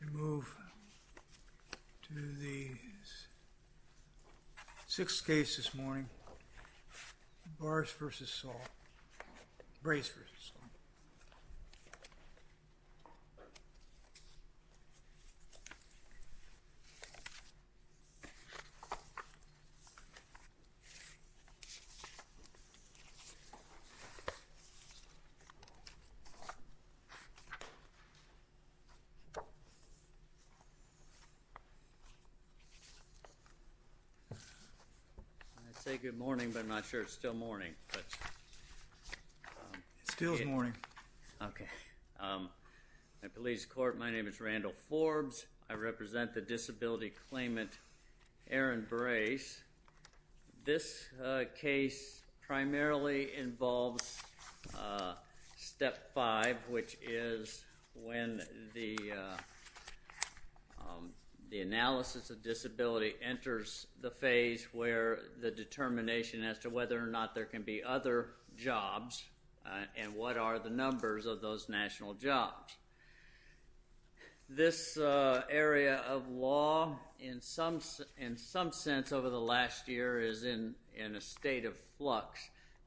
We move to the sixth case this morning, Brace v. Saul. I'd say good morning, but I'm not sure it's still morning. It still is morning. My name is Randall Forbes. I represent the disability claimant Aaron Brace. This case primarily involves step five, which is when the analysis of disability enters the phase where the determination as to whether or not there can be other jobs and what are the numbers of those national jobs. This area of law, in some sense over the last year, is in a state of flux.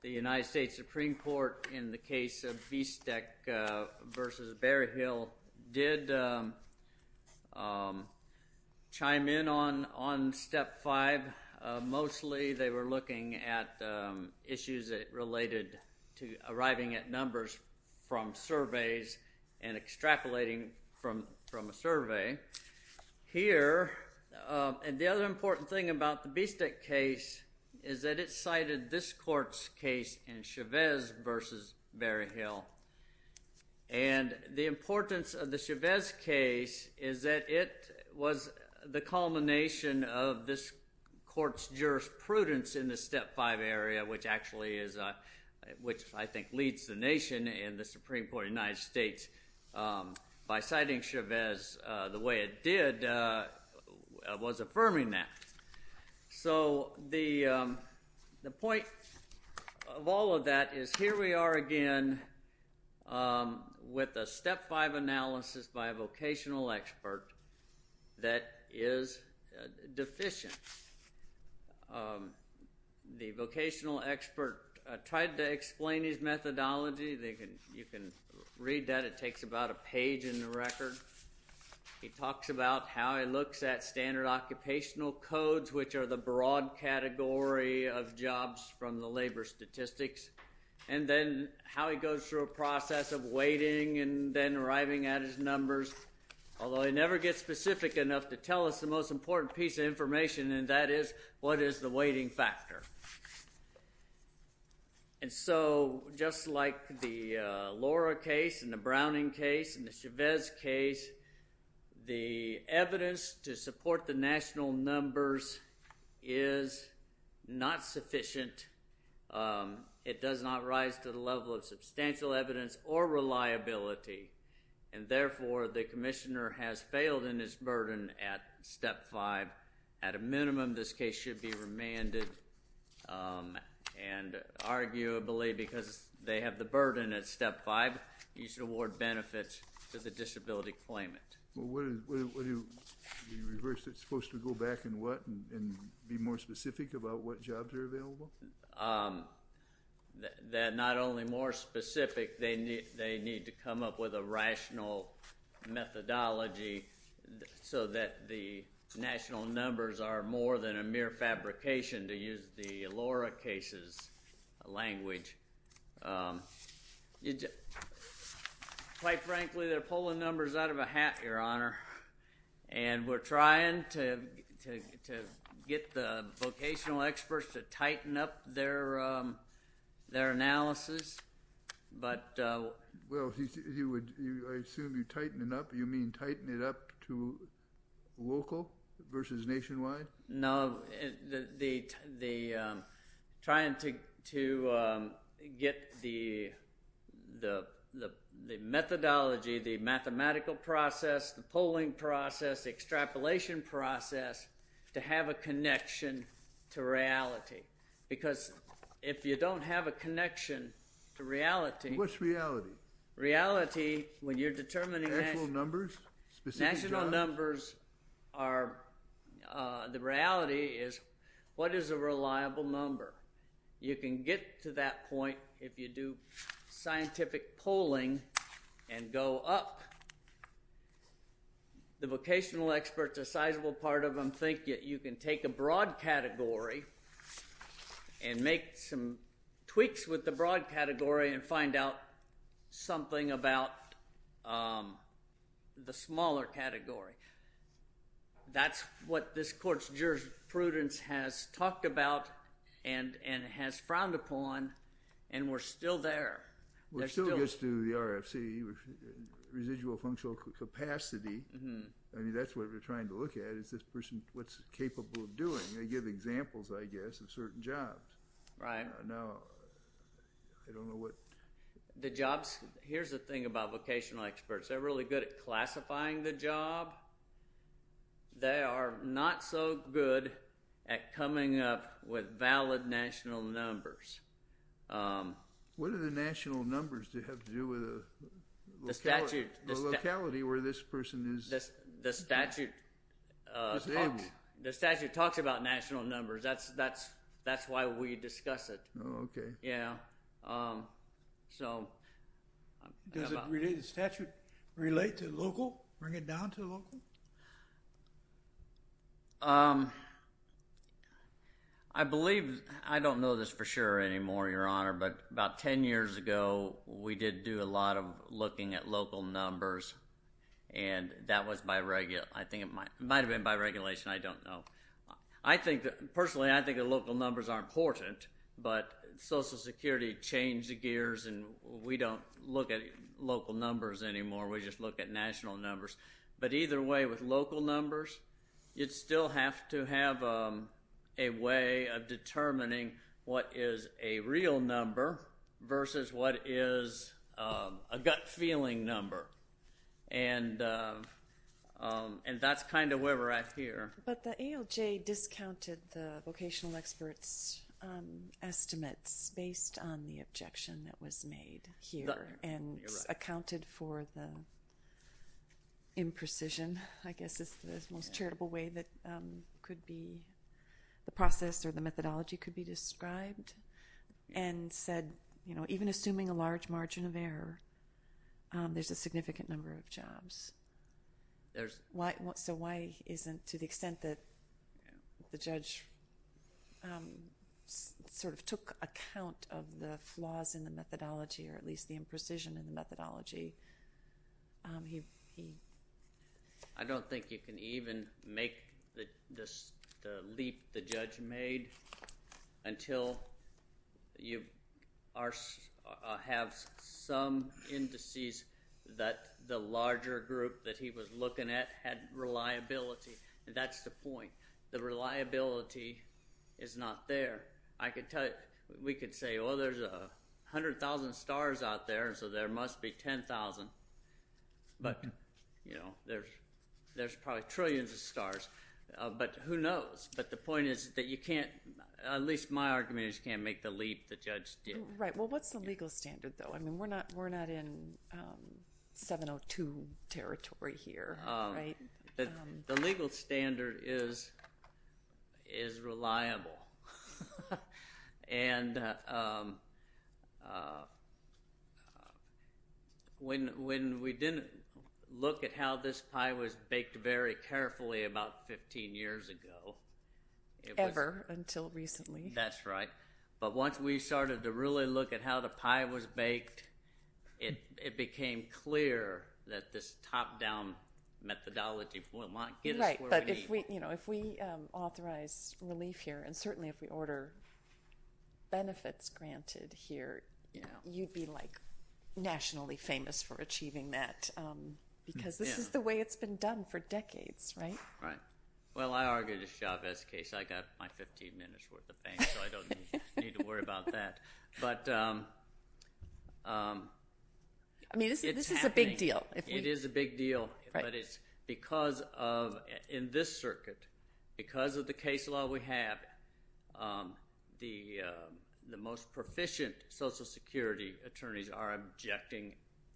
The United States Supreme Court, in the case of Vistek v. Berryhill, did chime in on step five. Mostly they were looking at issues that related to arriving at numbers from surveys and extrapolating from a survey. Here, and the other important thing about the Vistek case, is that it cited this court's case in Chavez v. Berryhill. And the importance of the Chavez case is that it was the culmination of this court's jurisprudence in the step five area, which I think leads the nation in the Supreme Court of the United States by citing Chavez the way it did, was affirming that. So the point of all of that is here we are again with a step five analysis by a vocational expert that is deficient. The vocational expert tried to explain his methodology. You can read that. It takes about a page in the record. He talks about how he looks at standard occupational codes, which are the broad category of jobs from the labor statistics, and then how he goes through a process of weighting and then arriving at his numbers, although he never gets specific enough to tell us the most important piece of information, and that is what is the weighting factor. And so just like the Laura case and the Browning case and the Chavez case, the evidence to support the national numbers is not sufficient. It does not rise to the level of substantial evidence or reliability, and therefore the commissioner has failed in his burden at step five. At a minimum, this case should be remanded, and arguably because they have the burden at step five, you should award benefits to the disability claimant. What is the reverse that's supposed to go back and what and be more specific about what jobs are available? They're not only more specific, they need to come up with a rational methodology so that the national numbers are more than a mere fabrication to use the Laura case's language. Quite frankly, they're pulling numbers out of a hat, Your Honor, and we're trying to get the vocational experts to tighten up their analysis. Well, I assume you tighten it up. You mean tighten it up to local versus nationwide? No, trying to get the methodology, the mathematical process, the polling process, the extrapolation process to have a connection to reality because if you don't have a connection to reality. What's reality? Reality, when you're determining national numbers, the reality is what is a reliable number? You can get to that point if you do scientific polling and go up. The vocational experts, a sizable part of them think that you can take a broad category and make some tweaks with the broad category and find out something about the smaller category. That's what this court's jurisprudence has talked about and has frowned upon and we're still there. We're still used to the RFC, residual functional capacity. I mean, that's what we're trying to look at is this person, what's capable of doing? They give examples, I guess, of certain jobs. Right. Now, I don't know what... The jobs, here's the thing about vocational experts, they're really good at classifying the job. They are not so good at coming up with valid national numbers. What do the national numbers have to do with the locality where this person is? The statute talks about national numbers. That's why we discuss it. Oh, okay. Yeah. Does the statute relate to local, bring it down to local? I believe, I don't know this for sure anymore, Your Honor, but about ten years ago we did do a lot of looking at local numbers and that was by regulation. I think it might have been by regulation. I don't know. Personally, I think the local numbers are important, but Social Security changed gears and we don't look at local numbers anymore. We just look at national numbers. But either way, with local numbers, you'd still have to have a way of determining what is a real number versus what is a gut feeling number. And that's kind of where we're at here. But the ALJ discounted the vocational experts' estimates based on the objection that was made here and accounted for the imprecision, I guess, is the most charitable way that could be the process or the methodology could be described, and said even assuming a large margin of error, there's a significant number of jobs. So why isn't, to the extent that the judge sort of took account of the flaws in the methodology or at least the imprecision in the methodology? I don't think you can even make the leap the judge made until you have some indices that the larger group that he was looking at had reliability, and that's the point. The reliability is not there. We could say, well, there's 100,000 stars out there, so there must be 10,000. But there's probably trillions of stars. But who knows? But the point is that you can't, at least in my argument, you just can't make the leap the judge did. Right. Well, what's the legal standard, though? I mean, we're not in 702 territory here, right? The legal standard is reliable. And when we didn't look at how this pie was baked very carefully about 15 years ago. Ever until recently. That's right. But once we started to really look at how the pie was baked, it became clear that this top-down methodology would not get us where we need. Right. But if we authorize relief here, and certainly if we order benefits granted here, you'd be, like, nationally famous for achieving that because this is the way it's been done for decades, right? Right. Well, I argued a Chavez case. I got my 15 minutes' worth of fame, so I don't need to worry about that. But it's happening. I mean, this is a big deal. It is a big deal. But it's because of, in this circuit, because of the case law we have, the most proficient Social Security attorneys are objecting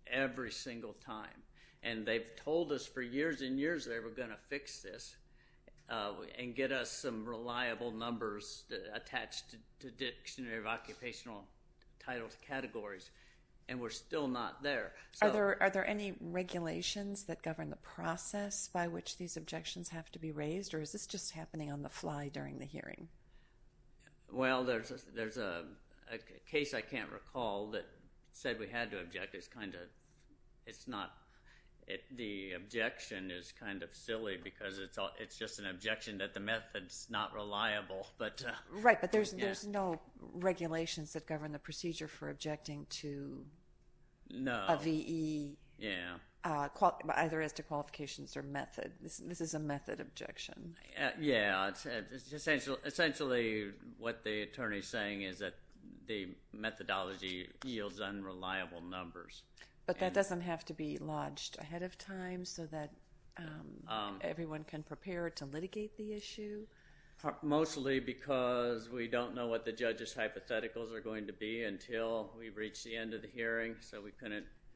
every single time. And they've told us for years and years they were going to fix this and get us some reliable numbers attached to dictionary of occupational titles categories, and we're still not there. Are there any regulations that govern the process by which these objections have to be raised, or is this just happening on the fly during the hearing? Well, there's a case I can't recall that said we had to object. The objection is kind of silly because it's just an objection that the method's not reliable. Right, but there's no regulations that govern the procedure for objecting to a VE, either as to qualifications or method. This is a method objection. Yeah, essentially what the attorney's saying is that the methodology yields unreliable numbers. But that doesn't have to be lodged ahead of time so that everyone can prepare to litigate the issue? Mostly because we don't know what the judge's hypotheticals are going to be until we reach the end of the hearing.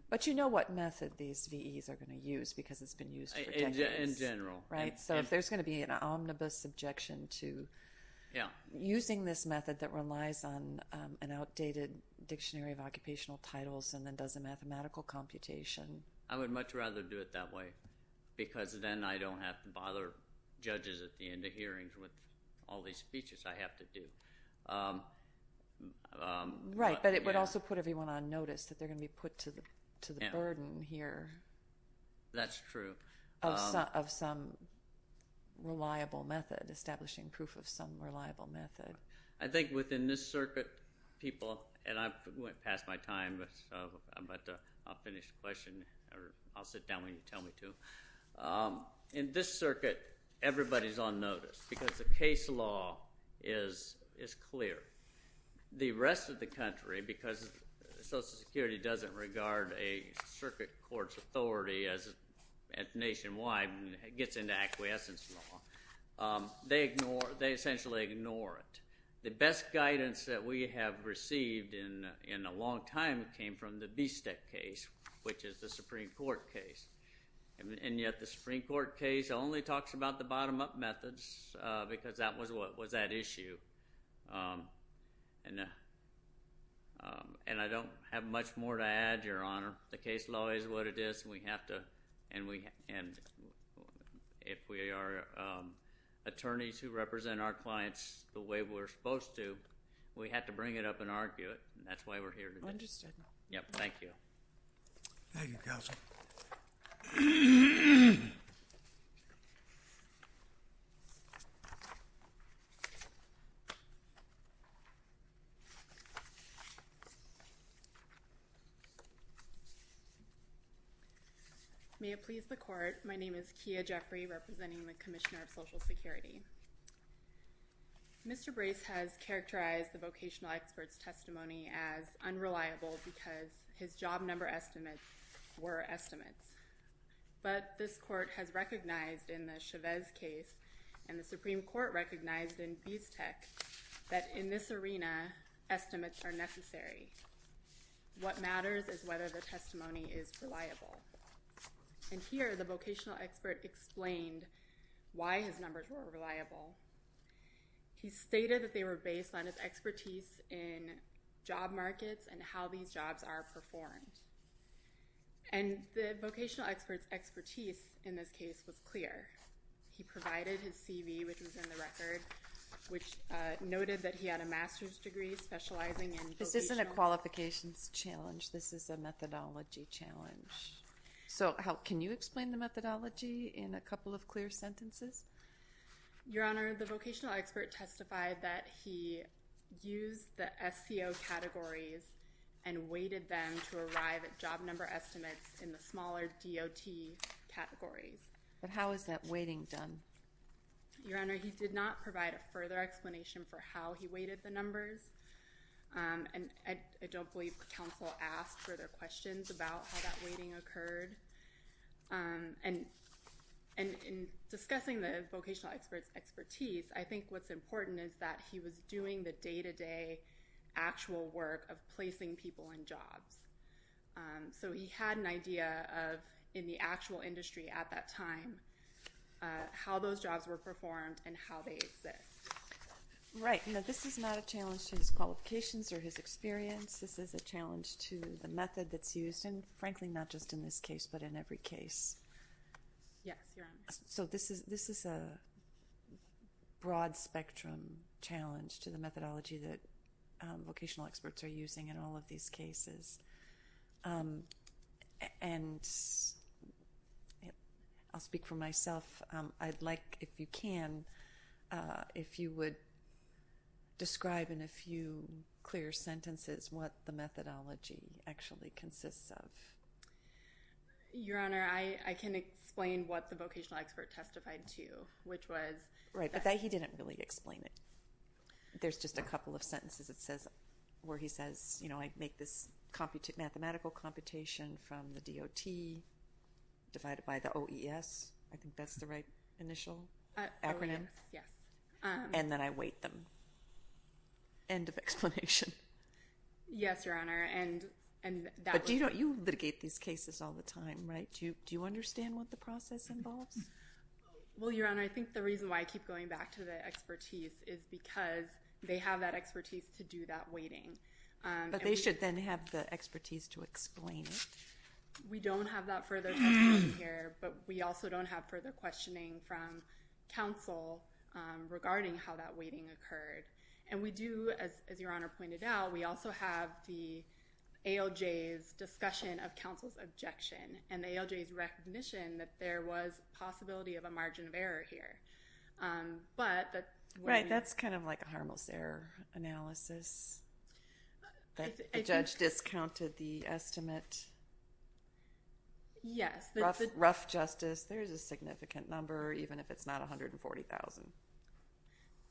But you know what method these VEs are going to use because it's been used for decades. In general. Right, so if there's going to be an omnibus objection to using this method that relies on an outdated dictionary of occupational titles and then does a mathematical computation. I would much rather do it that way because then I don't have to bother judges at the end of hearings with all these speeches I have to do. Right, but it would also put everyone on notice that they're going to be put to the burden here. That's true. Of some reliable method, establishing proof of some reliable method. I think within this circuit, people, and I went past my time, but I'll finish the question. I'll sit down when you tell me to. In this circuit, everybody's on notice because the case law is clear. The rest of the country, because Social Security doesn't regard a circuit court's authority as nationwide and gets into acquiescence law, they essentially ignore it. The best guidance that we have received in a long time came from the BSTEC case, which is the Supreme Court case. And yet the Supreme Court case only talks about the bottom-up methods because that was what was at issue. And I don't have much more to add, Your Honor. The case law is what it is, and if we are attorneys who represent our clients the way we're supposed to, we have to bring it up and argue it, and that's why we're here today. Understood. Thank you. Thank you, Counsel. May it please the Court. My name is Kia Jeffrey, representing the Commissioner of Social Security. Mr. Brace has characterized the vocational expert's testimony as unreliable because his job number estimates were estimates. But this Court has recognized in the Chavez case and the Supreme Court recognized in BSTEC that in this arena, estimates are necessary. What matters is whether the testimony is reliable. And here, the vocational expert explained why his numbers were unreliable. He stated that they were based on his expertise in job markets and how these jobs are performed. And the vocational expert's expertise in this case was clear. He provided his CV, which was in the record, which noted that he had a master's degree specializing in vocational. This isn't a qualifications challenge. This is a methodology challenge. So can you explain the methodology in a couple of clear sentences? Your Honor, the vocational expert testified that he used the SCO categories and weighted them to arrive at job number estimates in the smaller DOT categories. But how is that weighting done? Your Honor, he did not provide a further explanation for how he weighted the numbers. And I don't believe counsel asked further questions about how that weighting occurred. And in discussing the vocational expert's expertise, I think what's important is that he was doing the day-to-day actual work of placing people in jobs. So he had an idea of, in the actual industry at that time, how those jobs were performed and how they exist. Right. This is not a challenge to his qualifications or his experience. This is a challenge to the method that's used, and frankly, not just in this case but in every case. Yes, Your Honor. So this is a broad-spectrum challenge to the methodology that vocational experts are using in all of these cases. And I'll speak for myself. I'd like, if you can, if you would describe in a few clear sentences what the methodology actually consists of. Your Honor, I can explain what the vocational expert testified to, which was that- Right, but he didn't really explain it. There's just a couple of sentences where he says, I make this mathematical computation from the DOT divided by the OES. I think that's the right initial acronym. OES, yes. And then I weight them. End of explanation. Yes, Your Honor, and that was- But you litigate these cases all the time, right? Do you understand what the process involves? Well, Your Honor, I think the reason why I keep going back to the expertise is because they have that expertise to do that weighting. But they should then have the expertise to explain it. We don't have that further testimony here, but we also don't have further questioning from counsel regarding how that weighting occurred. And we do, as Your Honor pointed out, we also have the ALJ's discussion of counsel's objection and the ALJ's recognition that there was a possibility of a margin of error here. Right, that's kind of like a harmless error analysis. The judge discounted the estimate. Yes. Rough justice, there is a significant number, even if it's not 140,000.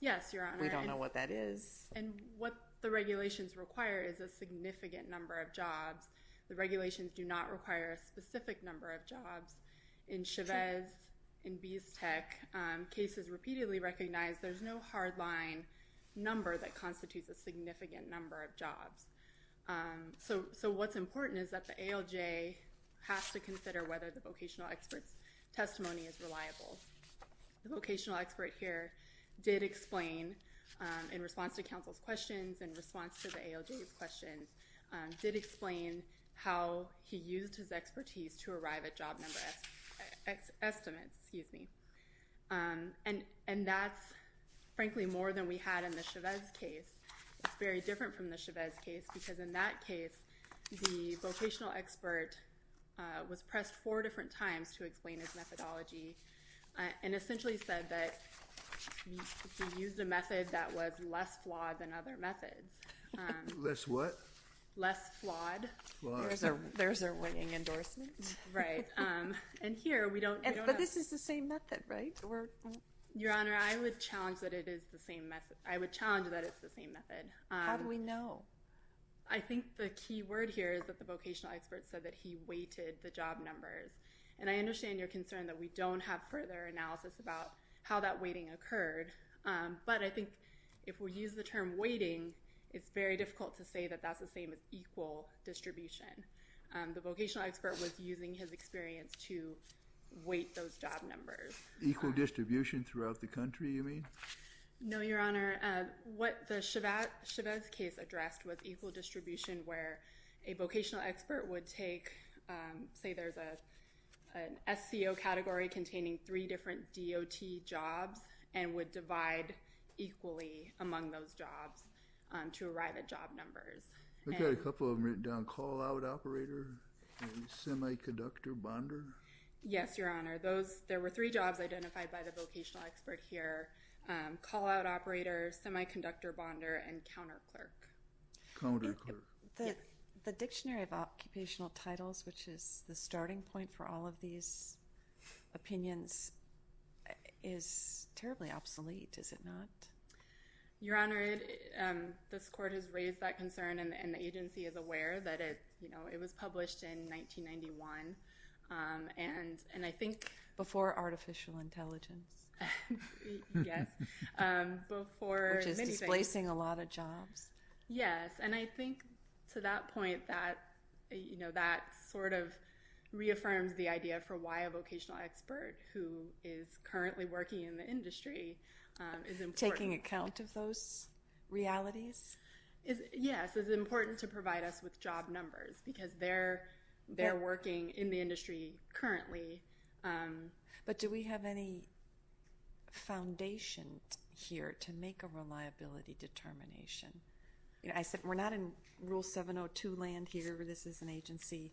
Yes, Your Honor. We don't know what that is. And what the regulations require is a significant number of jobs. The regulations do not require a specific number of jobs. In Chavez, in Biestek, cases repeatedly recognize there's no hard line number that constitutes a significant number of jobs. So what's important is that the ALJ has to consider whether the vocational expert's testimony is reliable. The vocational expert here did explain, in response to counsel's questions, in response to the ALJ's questions, did explain how he used his expertise to arrive at job number estimates. And that's, frankly, more than we had in the Chavez case. It's very different from the Chavez case because in that case, the vocational expert was pressed four different times to explain his methodology and essentially said that he used a method that was less flawed than other methods. Less what? Less flawed. There's a weighing endorsement. Right. And here, we don't know. But this is the same method, right? Your Honor, I would challenge that it is the same method. I would challenge that it's the same method. How do we know? I think the key word here is that the vocational expert said that he weighted the job numbers. And I understand your concern that we don't have further analysis about how that weighting occurred. But I think if we use the term weighting, it's very difficult to say that that's the same as equal distribution. The vocational expert was using his experience to weight those job numbers. Equal distribution throughout the country, you mean? No, Your Honor. What the Chavez case addressed was equal distribution where a vocational expert would take, say, there's an SCO category containing three different DOT jobs and would divide equally among those jobs to arrive at job numbers. I've got a couple of them written down, call-out operator and semiconductor bonder. Yes, Your Honor. There were three jobs identified by the vocational expert here, call-out operator, semiconductor bonder, and counterclerk. Counterclerk. The Dictionary of Occupational Titles, which is the starting point for all of these opinions, is terribly obsolete, is it not? Your Honor, this court has raised that concern, and the agency is aware that it was published in 1991, and I think— Before artificial intelligence. Yes, before many things. Which is displacing a lot of jobs. Yes, and I think to that point that sort of reaffirms the idea for why a vocational expert who is currently working in the industry is important. Taking account of those realities? Yes, it's important to provide us with job numbers because they're working in the industry currently. But do we have any foundation here to make a reliability determination? I said we're not in Rule 702 land here. This is an agency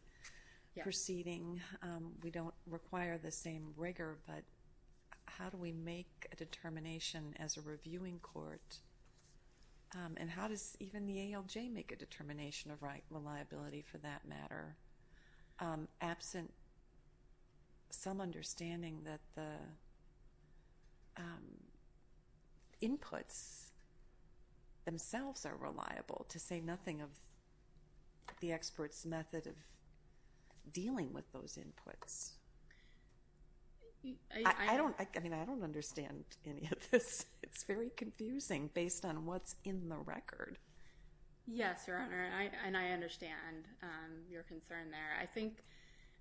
proceeding. We don't require the same rigor, but how do we make a determination as a reviewing court? And how does even the ALJ make a determination of reliability for that matter? Absent some understanding that the inputs themselves are reliable, to say nothing of the expert's method of dealing with those inputs. I don't understand any of this. It's very confusing based on what's in the record. Yes, Your Honor, and I understand your concern there. I think—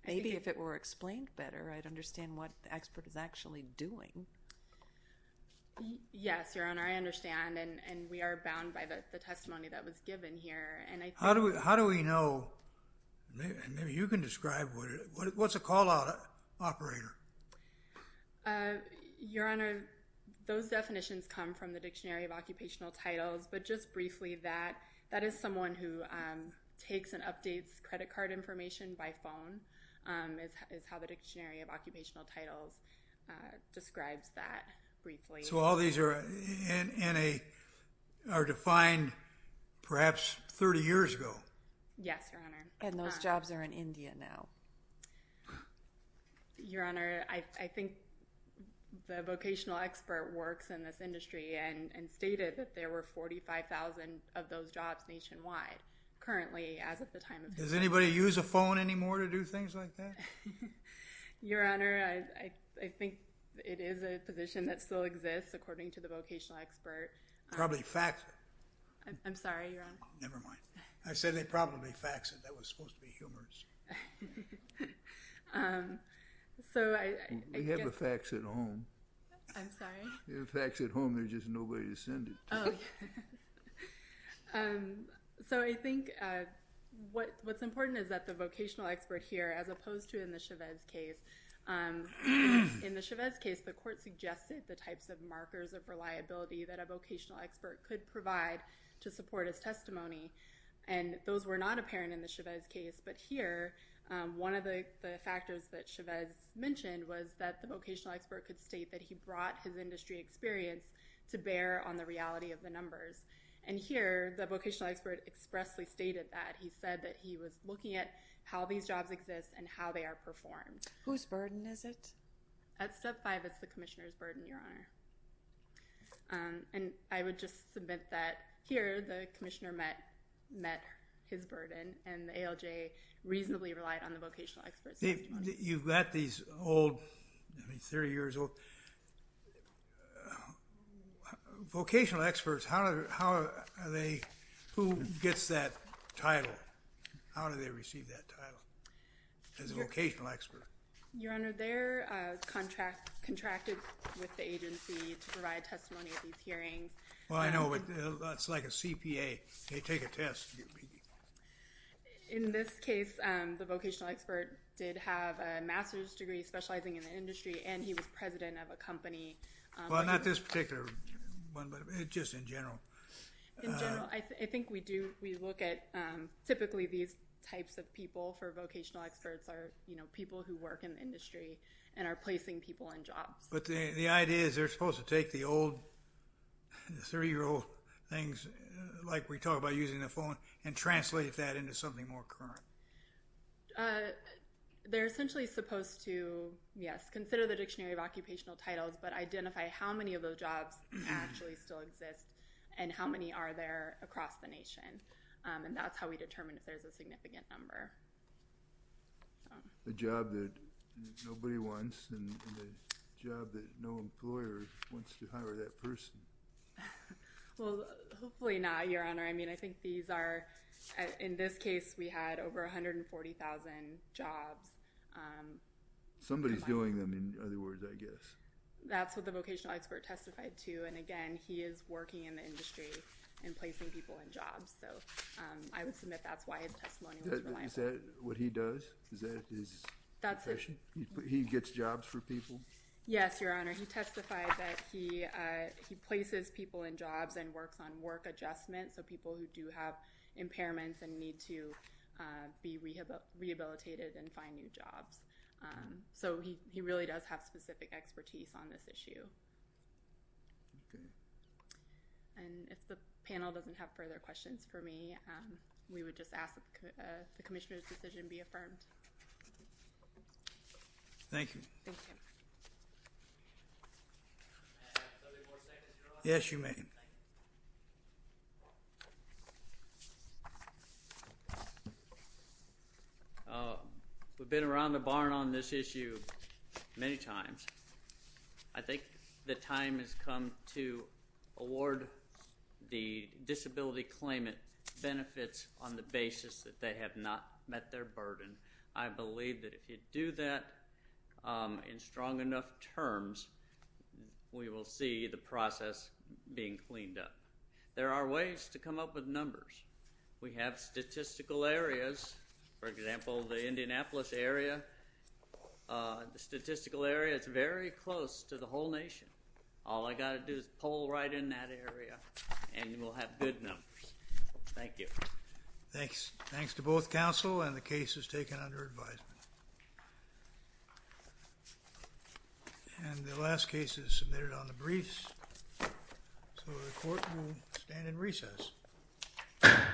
Maybe if it were explained better, I'd understand what the expert is actually doing. Yes, Your Honor, I understand, and we are bound by the testimony that was given here. How do we know, and maybe you can describe, what's a call-out operator? Your Honor, those definitions come from the Dictionary of Occupational Titles. But just briefly, that is someone who takes and updates credit card information by phone, is how the Dictionary of Occupational Titles describes that briefly. So all these are defined perhaps 30 years ago? Yes, Your Honor. And those jobs are in India now. Your Honor, I think the vocational expert works in this industry and stated that there were 45,000 of those jobs nationwide currently, as of the time of— Does anybody use a phone anymore to do things like that? Your Honor, I think it is a position that still exists, according to the vocational expert. Probably fax it. I'm sorry, Your Honor. Never mind. I said they probably fax it. That was supposed to be humorous. We have a fax at home. I'm sorry? We have a fax at home. There's just nobody to send it to. So I think what's important is that the vocational expert here, as opposed to in the Chavez case, in the Chavez case, the court suggested the types of markers of reliability that a vocational expert could provide to support his testimony. And those were not apparent in the Chavez case. But here, one of the factors that Chavez mentioned was that the vocational expert could state that he brought his industry experience to bear on the reality of the numbers. And here, the vocational expert expressly stated that. He said that he was looking at how these jobs exist and how they are performed. Whose burden is it? At step five, it's the commissioner's burden, Your Honor. And I would just submit that here, the commissioner met his burden, and the ALJ reasonably relied on the vocational expert's testimony. You've got these old, I mean, 30 years old vocational experts. How are they? Who gets that title? How do they receive that title as a vocational expert? Your Honor, they're contracted with the agency to provide testimony at these hearings. Well, I know, but that's like a CPA. They take a test. In this case, the vocational expert did have a master's degree specializing in the industry, and he was president of a company. Well, not this particular one, but just in general. In general, I think we look at typically these types of people for vocational experts are people who work in the industry and are placing people in jobs. But the idea is they're supposed to take the old 30-year-old things, like we talk about using the phone, and translate that into something more current. They're essentially supposed to, yes, consider the Dictionary of Occupational Titles, but identify how many of those jobs actually still exist, and how many are there across the nation. And that's how we determine if there's a significant number. The job that nobody wants, and the job that no employer wants to hire that person. Well, hopefully not, Your Honor. I mean, I think these are, in this case, we had over 140,000 jobs. Somebody's doing them, in other words, I guess. That's what the vocational expert testified to, and again, he is working in the industry and placing people in jobs. So I would submit that's why his testimony was reliable. Is that what he does? Is that his profession? He gets jobs for people? Yes, Your Honor. He testified that he places people in jobs and works on work adjustment, so people who do have impairments and need to be rehabilitated and find new jobs. So he really does have specific expertise on this issue. And if the panel doesn't have further questions for me, we would just ask that the Commissioner's decision be affirmed. Thank you. Thank you. May I have 30 more seconds, Your Honor? Yes, you may. Thank you. We've been around the barn on this issue many times. I think the time has come to award the disability claimant benefits on the basis that they have not met their burden. I believe that if you do that in strong enough terms, we will see the process being cleaned up. There are ways to come up with numbers. We have statistical areas. For example, the Indianapolis area, the statistical area is very close to the whole nation. All I've got to do is poll right in that area, and we'll have good numbers. Thank you. Thanks to both counsel, and the case is taken under advisement. And the last case is submitted on the briefs, so the Court will stand in recess. Thank you. Thank you.